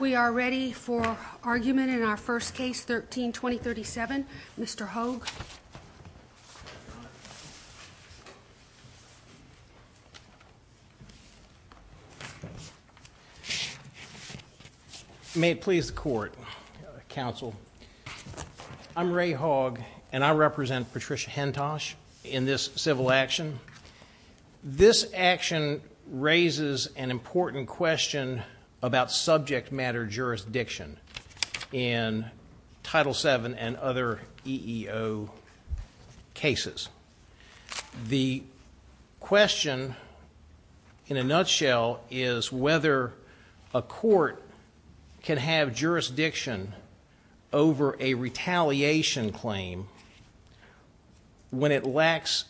We are ready for argument in our first case, 13-2037. Mr. Hoag. May it please the court, counsel. I'm Ray Hoag, and I represent Patricia Hentosh in this civil action. This action raises an important question about subject matter jurisdiction in Title VII and other EEO cases. The question in a nutshell is whether a court can have jurisdiction over a retaliation claim when it lacks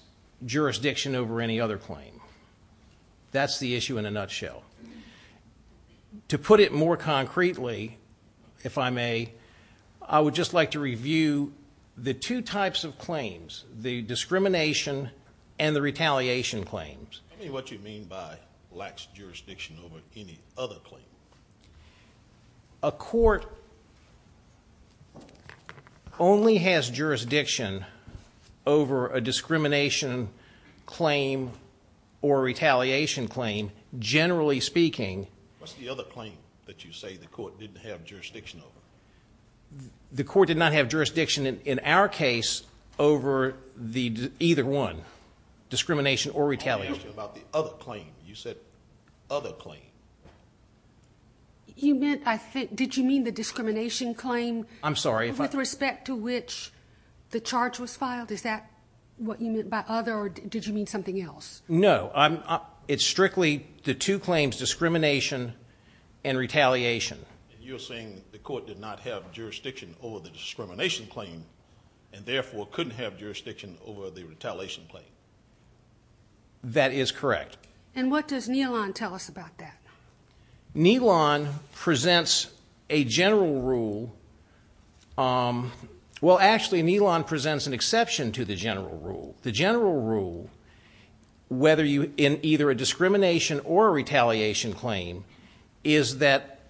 jurisdiction over any other claim. That's the issue in a nutshell. To put it more concretely, if I may, I would just like to review the two types of claims, the discrimination and the retaliation claims. Tell me what you mean by lacks jurisdiction over any other claim. A court only has jurisdiction over a discrimination claim or retaliation claim, generally speaking. What's the other claim that you say the court didn't have jurisdiction over? The court did not have jurisdiction in our case over either one, discrimination or retaliation. You said other claim. Did you mean the discrimination claim with respect to which the charge was filed? Is that what you meant by other or did you mean something else? No, it's strictly the two claims, discrimination and retaliation. You're saying the court did not have jurisdiction over the discrimination claim and therefore couldn't have jurisdiction over the retaliation claim. That is correct. And what does NELON tell us about that? NELON presents a general rule. Well, actually, NELON presents an exception to the general rule. The general rule, whether in either a discrimination or a retaliation claim, is that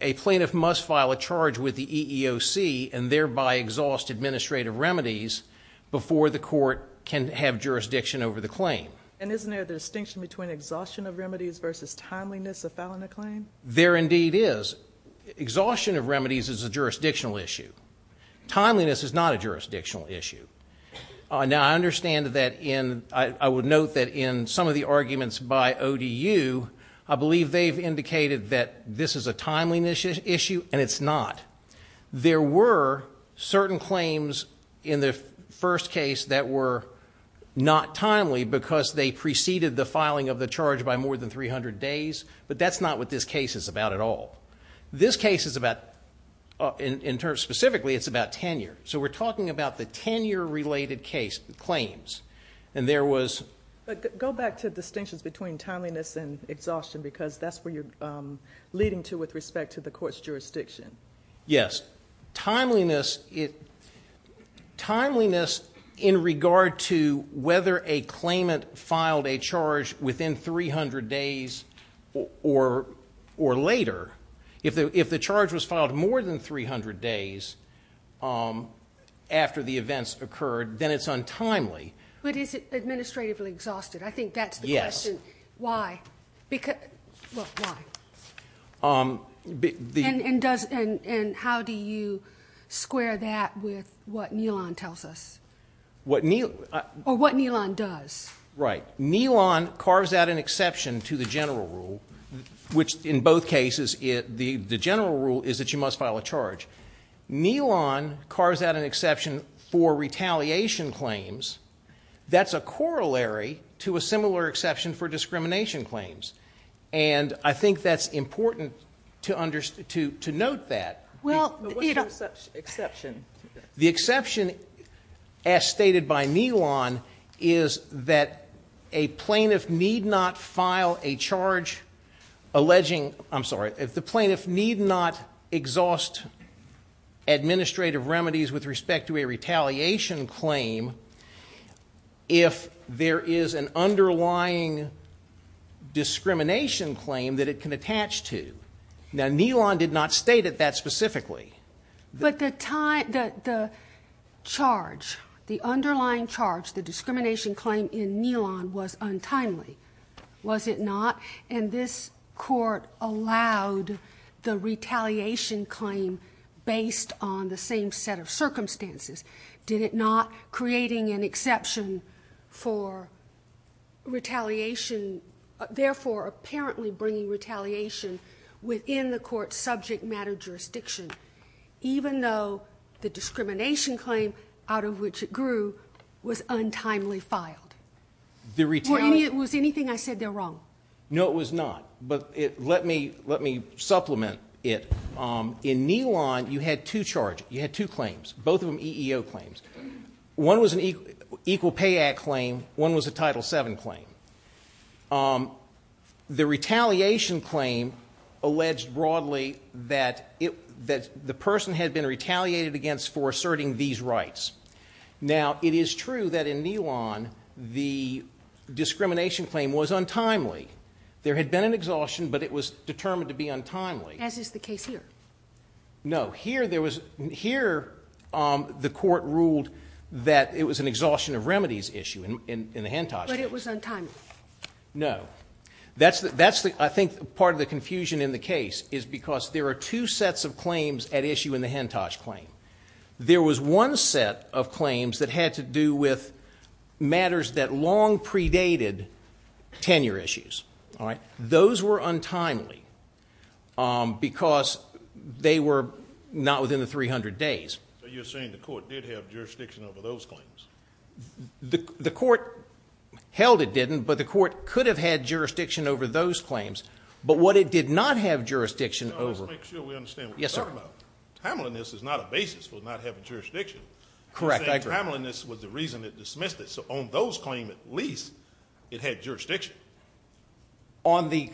a plaintiff must file a charge with the EEOC and thereby exhaust administrative remedies before the court can have jurisdiction over the claim. And isn't there a distinction between exhaustion of remedies versus timeliness of filing a claim? There indeed is. Exhaustion of remedies is a jurisdictional issue. Timeliness is not a jurisdictional issue. Now, I understand that in, I would note that in some of the arguments by ODU, I believe they've indicated that this is a timeliness issue and it's not. There were certain claims in the first case that were not timely because they preceded the filing of the charge by more than 300 days, but that's not what this case is about at all. This case is about, specifically, it's about tenure. So we're talking about the tenure-related case, claims. And there was... But go back to distinctions between timeliness and exhaustion because that's where you're leading to with respect to the court's jurisdiction. Yes. Timeliness in regard to whether a claimant filed a charge within 300 days or later. If the charge was filed more than 300 days after the events occurred, then it's untimely. But is it administratively exhausted? I think that's the question. Yes. Why? Well, why? And how do you square that with what NELON tells us? Or what NELON does. Right. NELON carves out an exception to the general rule, which in both cases, the general rule is that you must file a charge. NELON carves out an exception for retaliation claims. That's a corollary to a similar exception for discrimination claims. And I think that's important to note that. Well, you know... But what's the exception? The exception, as stated by NELON, is that a plaintiff need not file a charge alleging... I'm sorry. The plaintiff need not exhaust administrative remedies with respect to a retaliation claim if there is an underlying discrimination claim that it can attach to. Now, NELON did not state it that specifically. But the charge, the underlying charge, the discrimination claim in NELON was untimely, was it not? And this court allowed the retaliation claim based on the same set of circumstances, did it not? Creating an exception for retaliation, therefore apparently bringing retaliation within the court's subject matter jurisdiction, even though the discrimination claim out of which it grew was untimely filed. The retaliation... No, it was not. But let me supplement it. In NELON, you had two charges, you had two claims, both of them EEO claims. One was an Equal Pay Act claim, one was a Title VII claim. The retaliation claim alleged broadly that the person had been retaliated against for asserting these rights. Now, it is true that in NELON the discrimination claim was untimely. There had been an exhaustion, but it was determined to be untimely. As is the case here. No, here there was... Here the court ruled that it was an exhaustion of remedies issue in the Hentosh case. But it was untimely. No. That's the... I think part of the confusion in the case is because there are two sets of claims at issue in the Hentosh claim. There was one set of claims that had to do with matters that long predated tenure issues. Those were untimely because they were not within the 300 days. So you're saying the court did have jurisdiction over those claims? The court held it didn't, but the court could have had jurisdiction over those claims. But what it did not have jurisdiction over... Let's make sure we understand what we're talking about. Yes, sir. Because untimeliness is not a basis for not having jurisdiction. Correct, I agree. You're saying timeliness was the reason it dismissed it. So on those claims at least it had jurisdiction. On the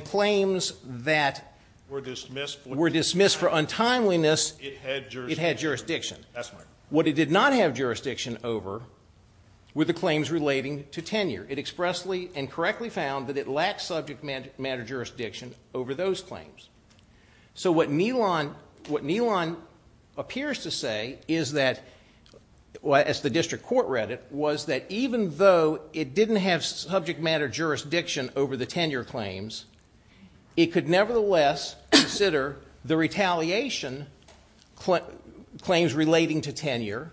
claims that were dismissed for untimeliness, it had jurisdiction. That's right. What it did not have jurisdiction over were the claims relating to tenure. It expressly and correctly found that it lacked subject matter jurisdiction over those claims. So what Nealon appears to say is that, as the district court read it, was that even though it didn't have subject matter jurisdiction over the tenure claims, it could nevertheless consider the retaliation claims relating to tenure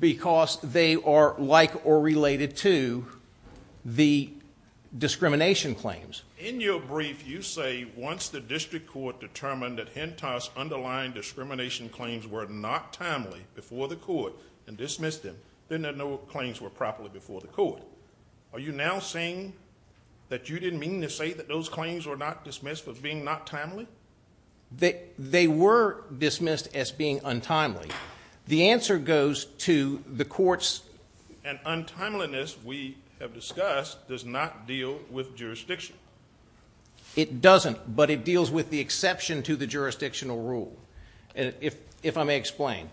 because they are like or related to the discrimination claims. In your brief you say once the district court determined that Hentos' underlying discrimination claims were not timely before the court and dismissed them, then there are no claims were properly before the court. Are you now saying that you didn't mean to say that those claims were not dismissed as being not timely? They were dismissed as being untimely. The answer goes to the court's... An untimeliness we have discussed does not deal with jurisdiction. It doesn't, but it deals with the exception to the jurisdictional rule, if I may explain.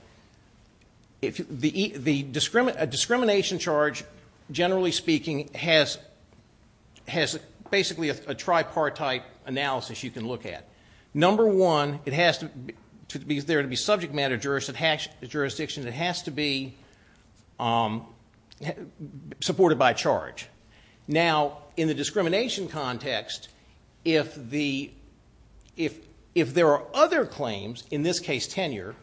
A discrimination charge, generally speaking, has basically a tripartite analysis you can look at. Number one, it has to be there to be subject matter jurisdiction. It has to be supported by a charge. Now, in the discrimination context, if there are other claims, in this case tenure,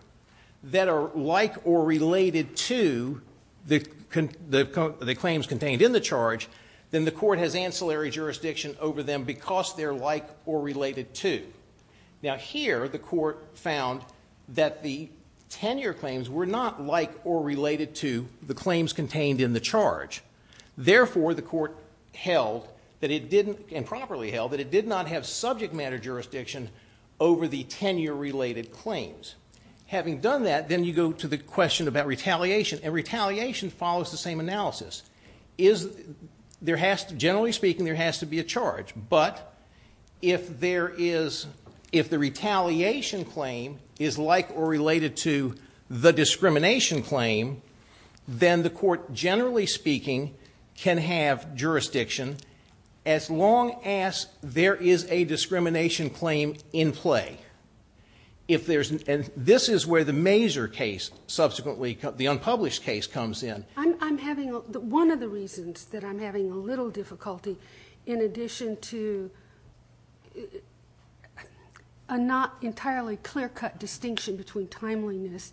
that are like or related to the claims contained in the charge, then the court has ancillary jurisdiction over them because they're like or related to. Now, here the court found that the tenure claims were not like or related to the claims contained in the charge. Therefore, the court held, and properly held, that it did not have subject matter jurisdiction over the tenure-related claims. Having done that, then you go to the question about retaliation, and retaliation follows the same analysis. Generally speaking, there has to be a charge, but if the retaliation claim is like or related to the discrimination claim, then the court, generally speaking, can have jurisdiction, as long as there is a discrimination claim in play. This is where the major case, subsequently the unpublished case, comes in. One of the reasons that I'm having a little difficulty, in addition to a not entirely clear-cut distinction between timeliness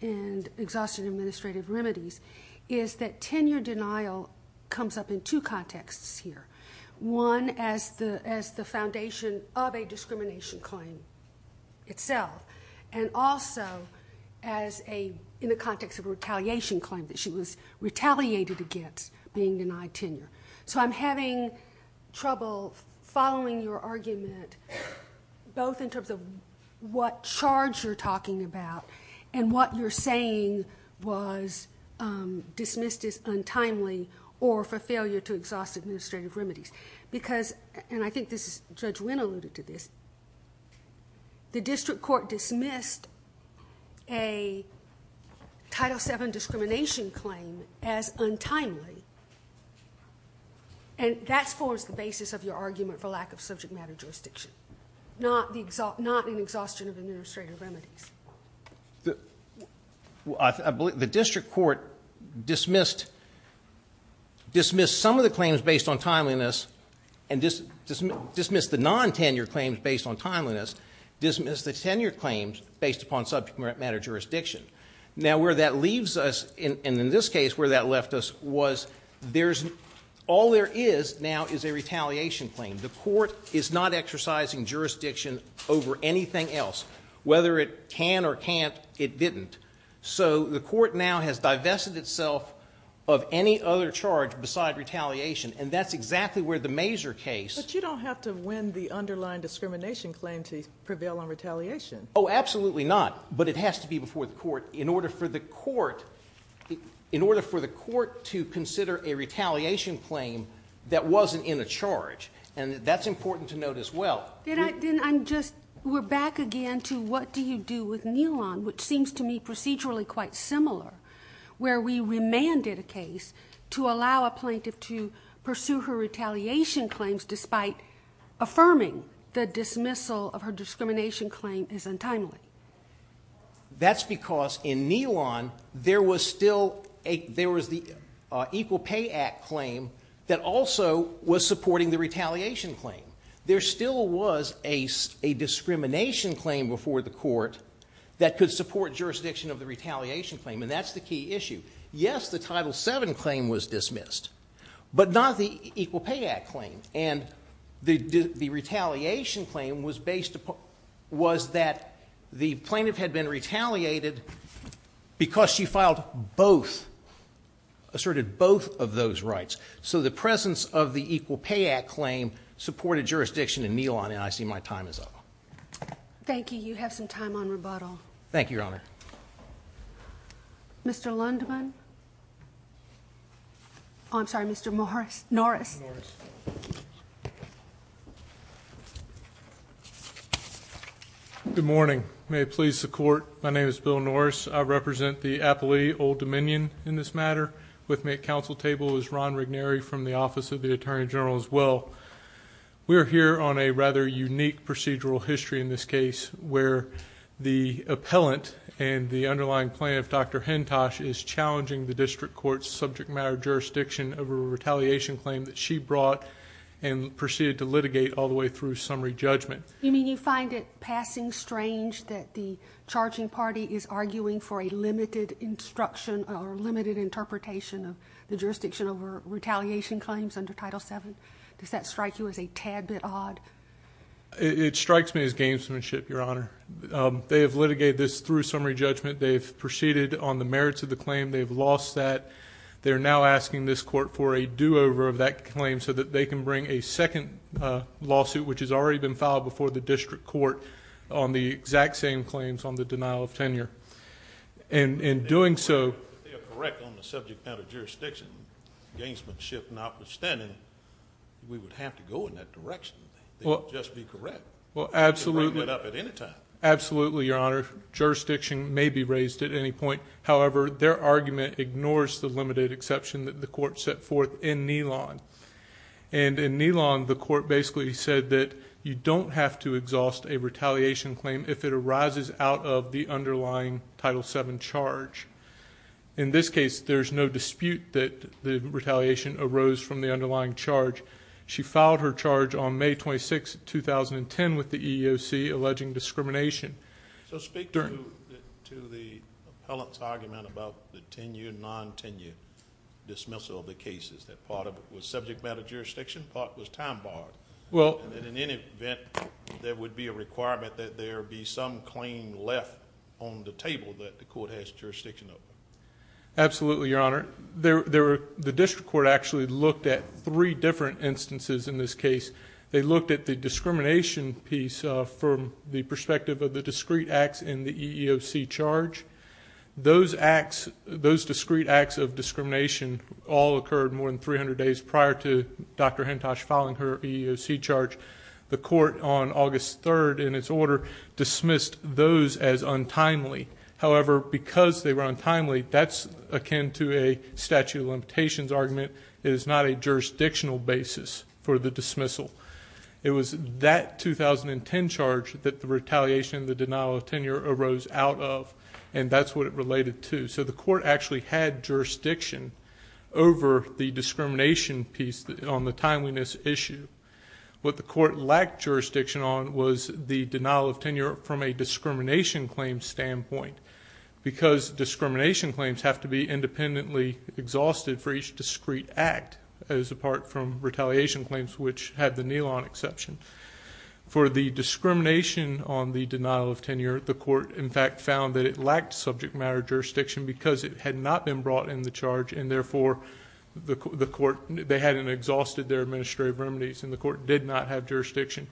and exhaustion administrative remedies, is that tenure denial comes up in two contexts here. One, as the foundation of a discrimination claim itself, and also in the context of a retaliation claim that she was retaliated against, being denied tenure. I'm having trouble following your argument, both in terms of what charge you're talking about, and what you're saying was dismissed as untimely, or for failure to exhaust administrative remedies. I think Judge Wynn alluded to this. The district court dismissed a Title VII discrimination claim as untimely, and that forms the basis of your argument for lack of subject matter jurisdiction, not an exhaustion of administrative remedies. The district court dismissed some of the claims based on timeliness, and dismissed the non-tenure claims based on timeliness, dismissed the tenure claims based upon subject matter jurisdiction. Now where that leaves us, and in this case where that left us, was all there is now is a retaliation claim. The court is not exercising jurisdiction over anything else. Whether it can or can't, it didn't. So the court now has divested itself of any other charge besides retaliation, and that's exactly where the Mazur case... But you don't have to win the underlying discrimination claim to prevail on retaliation. Oh, absolutely not, but it has to be before the court in order for the court to consider a retaliation claim that wasn't in a charge, and that's important to note as well. Then we're back again to what do you do with Nealon, which seems to me procedurally quite similar, where we remanded a case to allow a plaintiff to pursue her retaliation claims despite affirming the dismissal of her discrimination claim as untimely. That's because in Nealon there was the Equal Pay Act claim that also was supporting the retaliation claim. There still was a discrimination claim before the court that could support jurisdiction of the retaliation claim, and that's the key issue. Yes, the Title VII claim was dismissed, but not the Equal Pay Act claim, and the retaliation claim was that the plaintiff had been retaliated because she filed both, asserted both of those rights. So the presence of the Equal Pay Act claim supported jurisdiction in Nealon, and I see my time is up. Thank you. You have some time on rebuttal. Thank you, Your Honor. Mr. Lundman. I'm sorry, Mr. Norris. Good morning. May it please the Court, my name is Bill Norris. I represent the Appalachian Old Dominion in this matter. With me at counsel table is Ron Regneri from the Office of the Attorney General as well. We are here on a rather unique procedural history in this case where the appellant and the underlying plaintiff, Dr. Hentosch, is challenging the district court's subject matter jurisdiction over a retaliation claim that she brought and proceeded to litigate all the way through summary judgment. You mean you find it passing strange that the charging party is arguing for a limited instruction or limited interpretation of the jurisdiction over retaliation claims under Title VII? Does that strike you as a tad bit odd? It strikes me as gamesmanship, Your Honor. They have litigated this through summary judgment. They have proceeded on the merits of the claim. They have lost that. They are now asking this court for a do-over of that claim so that they can bring a second lawsuit, which has already been filed before the district court, on the exact same claims on the denial of tenure. In doing so, If they are correct on the subject matter jurisdiction, gamesmanship notwithstanding, we would have to go in that direction. They would just be correct. They could bring it up at any time. Absolutely, Your Honor. Jurisdiction may be raised at any point. However, their argument ignores the limited exception that the court set forth in Nilon. In Nilon, the court basically said that you don't have to exhaust a retaliation claim if it arises out of the underlying Title VII charge. In this case, there is no dispute that the retaliation arose from the underlying charge. She filed her charge on May 26, 2010, with the EEOC alleging discrimination. So speak to the appellant's argument about the tenure, non-tenure dismissal of the cases, that part of it was subject matter jurisdiction, part was time barred. In any event, there would be a requirement that there be some claim left on the table that the court has jurisdiction over. Absolutely, Your Honor. The district court actually looked at three different instances in this case. They looked at the discrimination piece from the perspective of the discrete acts in the EEOC charge. Those discrete acts of discrimination all occurred more than 300 days prior to Dr. Hintosh filing her EEOC charge. The court on August 3, in its order, dismissed those as untimely. However, because they were untimely, that's akin to a statute of limitations argument. It is not a jurisdictional basis for the dismissal. It was that 2010 charge that the retaliation of the denial of tenure arose out of, and that's what it related to. So the court actually had jurisdiction over the discrimination piece on the timeliness issue. What the court lacked jurisdiction on was the denial of tenure from a discrimination claim standpoint because discrimination claims have to be independently exhausted for each discrete act, as apart from retaliation claims, which had the NELON exception. For the discrimination on the denial of tenure, the court, in fact, found that it lacked subject matter jurisdiction because it had not been brought in the charge, and therefore they hadn't exhausted their administrative remedies, and the court did not have jurisdiction.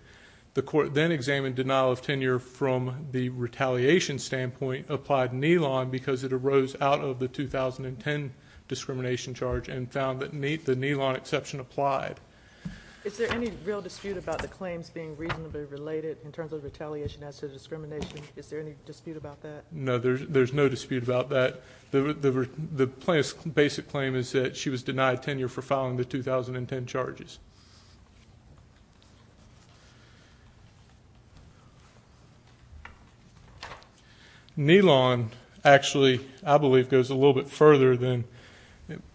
The court then examined denial of tenure from the retaliation standpoint, applied NELON because it arose out of the 2010 discrimination charge and found that the NELON exception applied. Is there any real dispute about the claims being reasonably related in terms of retaliation as to discrimination? Is there any dispute about that? No, there's no dispute about that. The plaintiff's basic claim is that she was denied tenure for filing the 2010 charges. NELON actually, I believe, goes a little bit further than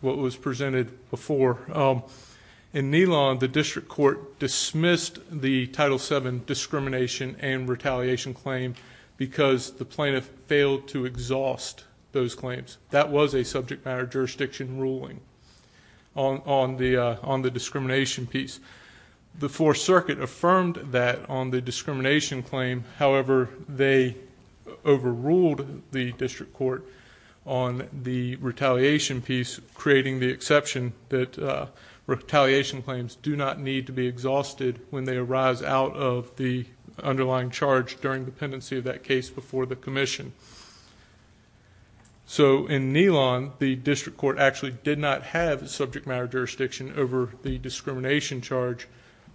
what was presented before. In NELON, the district court dismissed the Title VII discrimination and retaliation claim because the plaintiff failed to exhaust those claims. That was a subject matter jurisdiction ruling on the discrimination piece. The Fourth Circuit affirmed that on the discrimination claim. However, they overruled the district court on the retaliation piece, creating the exception that retaliation claims do not need to be exhausted when they arise out of the underlying charge during the pendency of that case before the commission. So in NELON, the district court actually did not have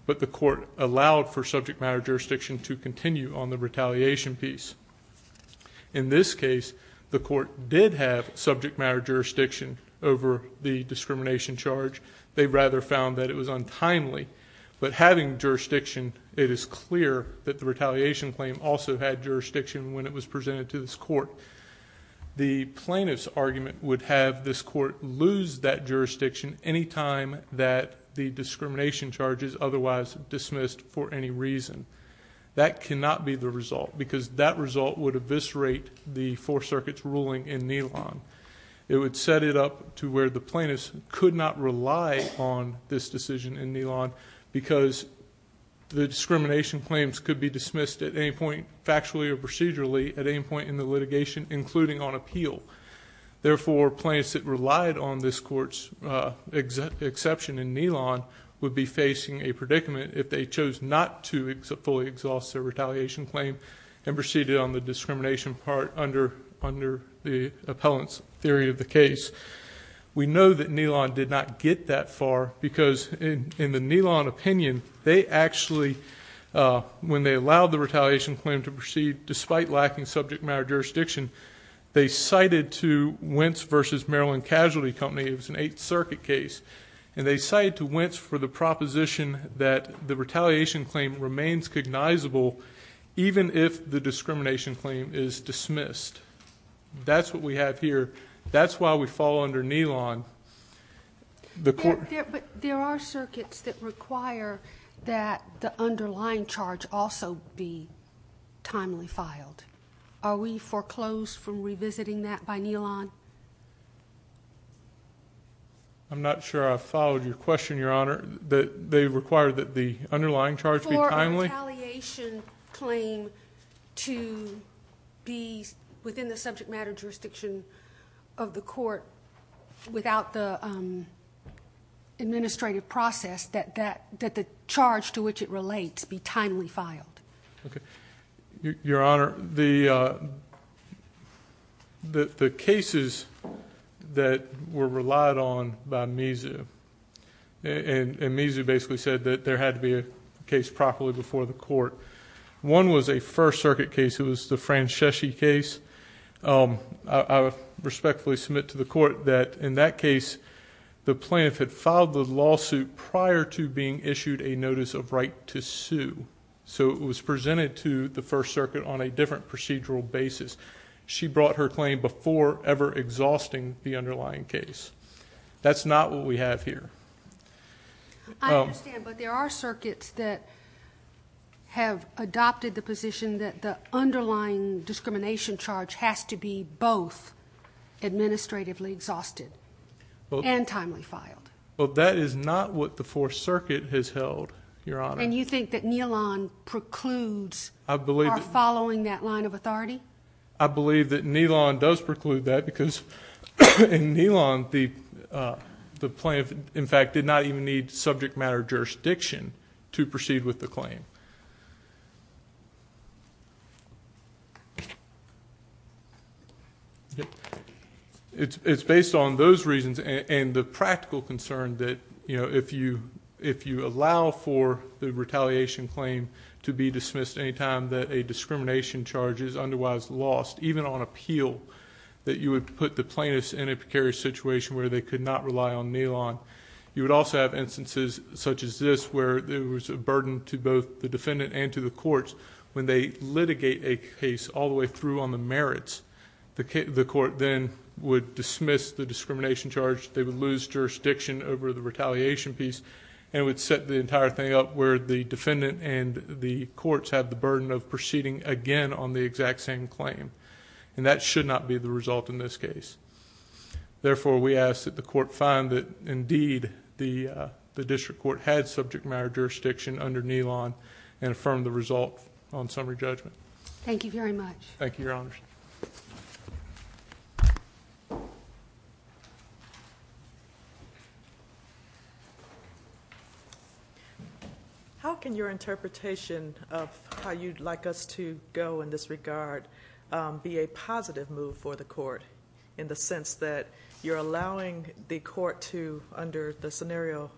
but the court allowed for subject matter jurisdiction to continue on the retaliation piece. In this case, the court did have subject matter jurisdiction over the discrimination charge. They rather found that it was untimely. But having jurisdiction, it is clear that the retaliation claim also had jurisdiction when it was presented to this court. The plaintiff's argument would have this court lose that jurisdiction any time that the discrimination charge is otherwise dismissed for any reason. That cannot be the result because that result would eviscerate the Fourth Circuit's ruling in NELON. It would set it up to where the plaintiff could not rely on this decision in NELON because the discrimination claims could be dismissed at any point factually or procedurally at any point in the litigation, including on appeal. Therefore, plaintiffs that relied on this court's exception in NELON would be facing a predicament if they chose not to fully exhaust their retaliation claim and proceeded on the discrimination part under the appellant's theory of the case. We know that NELON did not get that far because in the NELON opinion, they actually, when they allowed the retaliation claim to proceed despite lacking subject matter jurisdiction, they cited to Wentz v. Maryland Casualty Company, it was an Eighth Circuit case, and they cited to Wentz for the proposition that the retaliation claim remains cognizable even if the discrimination claim is dismissed. That's what we have here. That's why we fall under NELON. There are circuits that require that the underlying charge also be timely filed. Are we foreclosed from revisiting that by NELON? I'm not sure I followed your question, Your Honor. They require that the underlying charge be timely? For a retaliation claim to be within the subject matter jurisdiction of the court without the administrative process, that the charge to which it relates be timely filed. Your Honor, the cases that were relied on by MISU, and MISU basically said that there had to be a case properly before the court, one was a First Circuit case. It was the Franceschi case. I respectfully submit to the court that in that case, the plaintiff had filed the lawsuit prior to being issued a notice of right to sue. So it was presented to the First Circuit on a different procedural basis. She brought her claim before ever exhausting the underlying case. That's not what we have here. I understand, but there are circuits that have adopted the position that the underlying discrimination charge has to be both administratively exhausted and timely filed. Well, that is not what the Fourth Circuit has held, Your Honor. And you think that NELON precludes our following that line of authority? I believe that NELON does preclude that because in NELON, the plaintiff, in fact, did not even need subject matter jurisdiction to proceed with the claim. It's based on those reasons and the practical concern that if you allow for the retaliation claim to be dismissed anytime that a discrimination charge is otherwise lost, even on appeal, that you would put the plaintiff in a precarious situation where they could not rely on NELON. You would also have instances such as this where there was a burden to both the defendant and to the courts when they litigate a case all the way through on the merits. The court then would dismiss the discrimination charge. They would lose jurisdiction over the retaliation piece and would set the entire thing up where the defendant and the courts have the burden of proceeding again on the exact same claim. And that should not be the result in this case. Therefore, we ask that the court find that, indeed, the district court had subject matter jurisdiction under NELON and affirm the result on summary judgment. Thank you very much. Thank you, Your Honors. How can your interpretation of how you'd like us to go in this regard be a positive move for the court in the sense that you're allowing the court to, under the scenario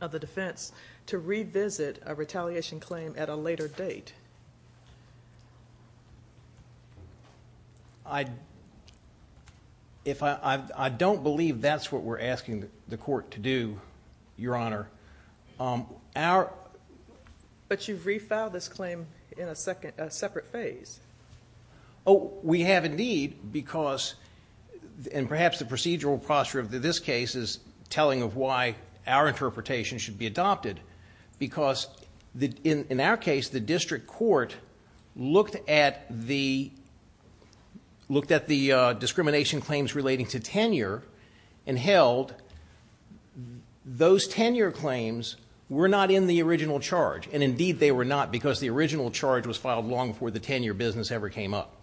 of the defense, to revisit a retaliation claim at a later date? I don't believe that's what we're asking the court to do, Your Honor. But you've refiled this claim in a separate phase. Oh, we have indeed because, and perhaps the procedural posture of this case is telling of why our interpretation should be adopted because, in our case, the district court looked at the discrimination claims relating to tenure and held those tenure claims were not in the original charge. And, indeed, they were not because the original charge was filed long before the tenure business ever came up.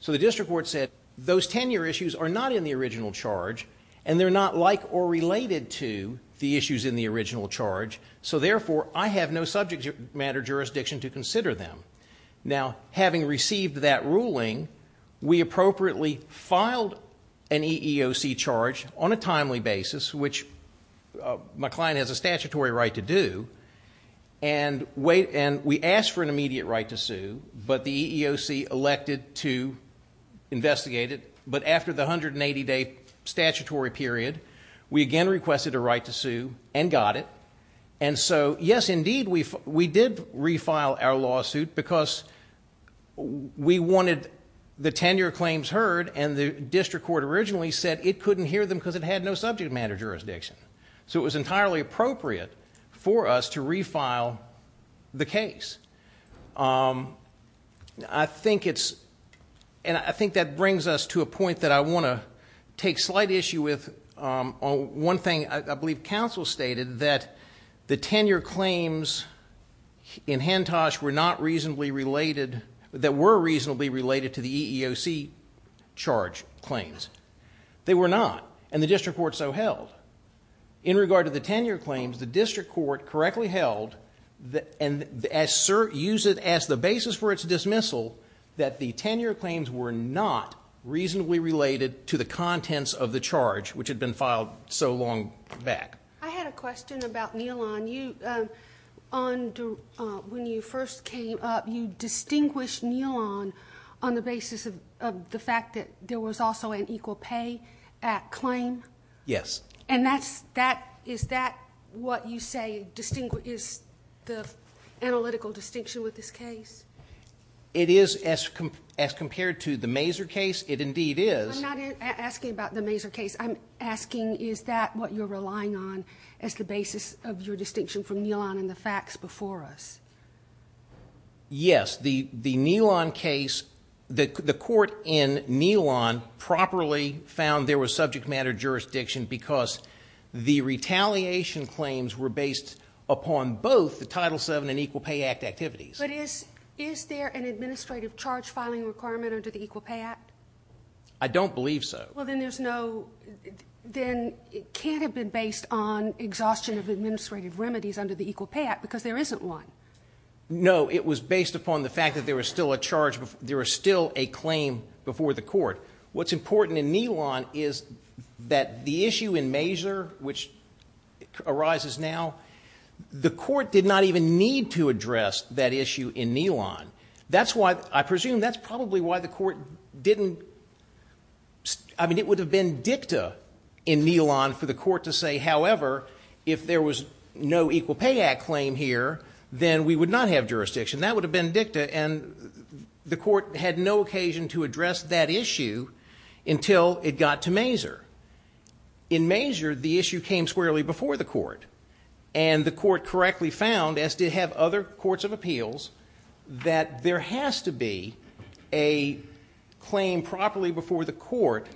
So the district court said those tenure issues are not in the original charge and they're not like or related to the issues in the original charge. So, therefore, I have no subject matter jurisdiction to consider them. Now, having received that ruling, we appropriately filed an EEOC charge on a timely basis, which my client has a statutory right to do, and we asked for an immediate right to sue, but the EEOC elected to investigate it. But after the 180-day statutory period, we again requested a right to sue and got it. And so, yes, indeed, we did refile our lawsuit because we wanted the tenure claims heard and the district court originally said it couldn't hear them because it had no subject matter jurisdiction. So it was entirely appropriate for us to refile the case. And I think that brings us to a point that I want to take slight issue with. One thing I believe counsel stated that the tenure claims in Hentosh were not reasonably related... that were reasonably related to the EEOC charge claims. They were not, and the district court so held. In regard to the tenure claims, the district court correctly held, and used it as the basis for its dismissal, that the tenure claims were not reasonably related to the contents of the charge, which had been filed so long back. I had a question about Nealon. When you first came up, you distinguished Nealon on the basis of the fact that there was also an Equal Pay Act claim? Yes. And is that what you say is the analytical distinction with this case? It is. As compared to the Mazer case, it indeed is. I'm not asking about the Mazer case. I'm asking is that what you're relying on as the basis of your distinction from Nealon and the facts before us? Yes. The Nealon case, the court in Nealon properly found there was subject matter jurisdiction because the retaliation claims were based upon both the Title VII and Equal Pay Act activities. But is there an administrative charge filing requirement under the Equal Pay Act? I don't believe so. Then it can't have been based on exhaustion of administrative remedies under the Equal Pay Act because there isn't one. No, it was based upon the fact that there was still a charge, there was still a claim before the court. What's important in Nealon is that the issue in Mazer, which arises now, the court did not even need to address that issue in Nealon. I presume that's probably why the court didn't... I mean, it would have been dicta in Nealon for the court to say, however, if there was no Equal Pay Act claim here, then we would not have jurisdiction. That would have been dicta, and the court had no occasion to address that issue until it got to Mazer. In Mazer, the issue came squarely before the court, and the court correctly found, as did other courts of appeals, that there has to be a claim properly before the court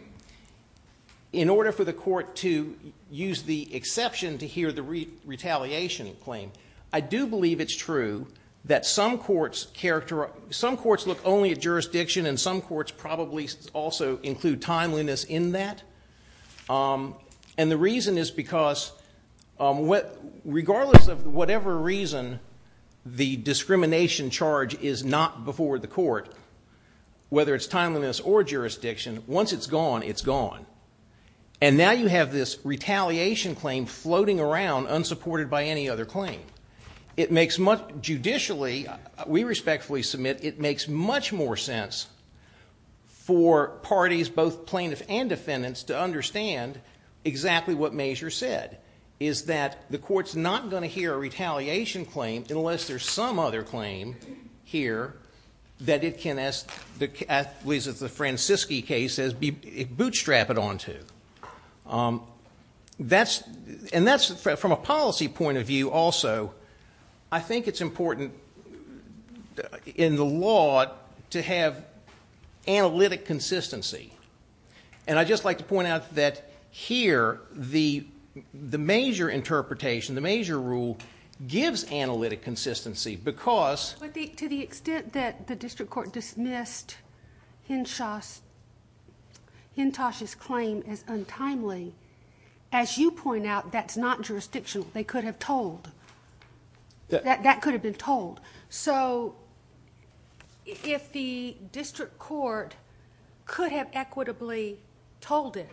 in order for the court to use the exception to hear the retaliation claim. I do believe it's true that some courts characterize... Some courts look only at jurisdiction, and some courts probably also include timeliness in that. And the reason is because, regardless of whatever reason, the discrimination charge is not before the court, whether it's timeliness or jurisdiction, once it's gone, it's gone. And now you have this retaliation claim floating around unsupported by any other claim. It makes much... Judicially, we respectfully submit, it makes much more sense for parties, both plaintiffs and defendants, to understand exactly what Mazer said, is that the court's not going to hear a retaliation claim unless there's some other claim here that it can, at least as the Francisci case says, bootstrap it onto. And that's from a policy point of view also. I think it's important in the law to have analytic consistency. And I'd just like to point out that here, the Mazer interpretation, the Mazer rule, gives analytic consistency because... But to the extent that the district court dismissed Hintosh's claim as untimely, as you point out, that's not jurisdictional. They could have told. That could have been told. So if the district court could have equitably told it,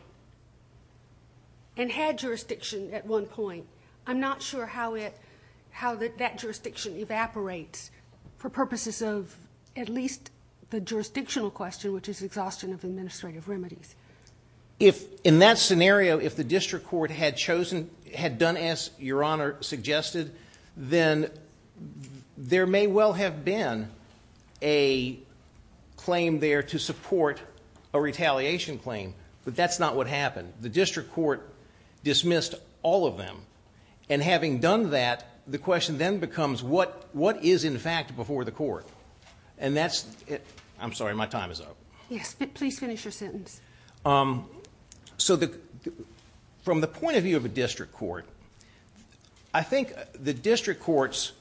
and had jurisdiction at one point, I'm not sure how that jurisdiction evaporates for purposes of at least the jurisdictional question, which is exhaustion of administrative remedies. If, in that scenario, if the district court had chosen, had done as Your Honor suggested, then there may well have been a claim there to support a retaliation claim. But that's not what happened. The district court dismissed all of them. And having done that, the question then becomes, what is, in fact, before the court? And that's... I'm sorry, my time is up. Yes, but please finish your sentence. So from the point of view of a district court, I think the district courts...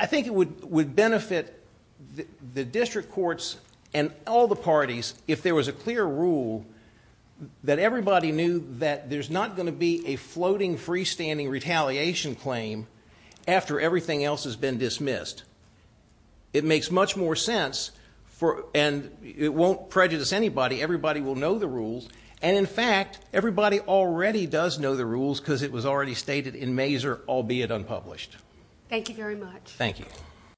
I think it would benefit the district courts and all the parties if there was a clear rule that everybody knew that there's not going to be a floating, freestanding retaliation claim after everything else has been dismissed. It makes much more sense, and it won't prejudice anybody. Everybody will know the rules. And, in fact, everybody already does know the rules because it was already stated in Mazur, albeit unpublished. Thank you very much. Thank you.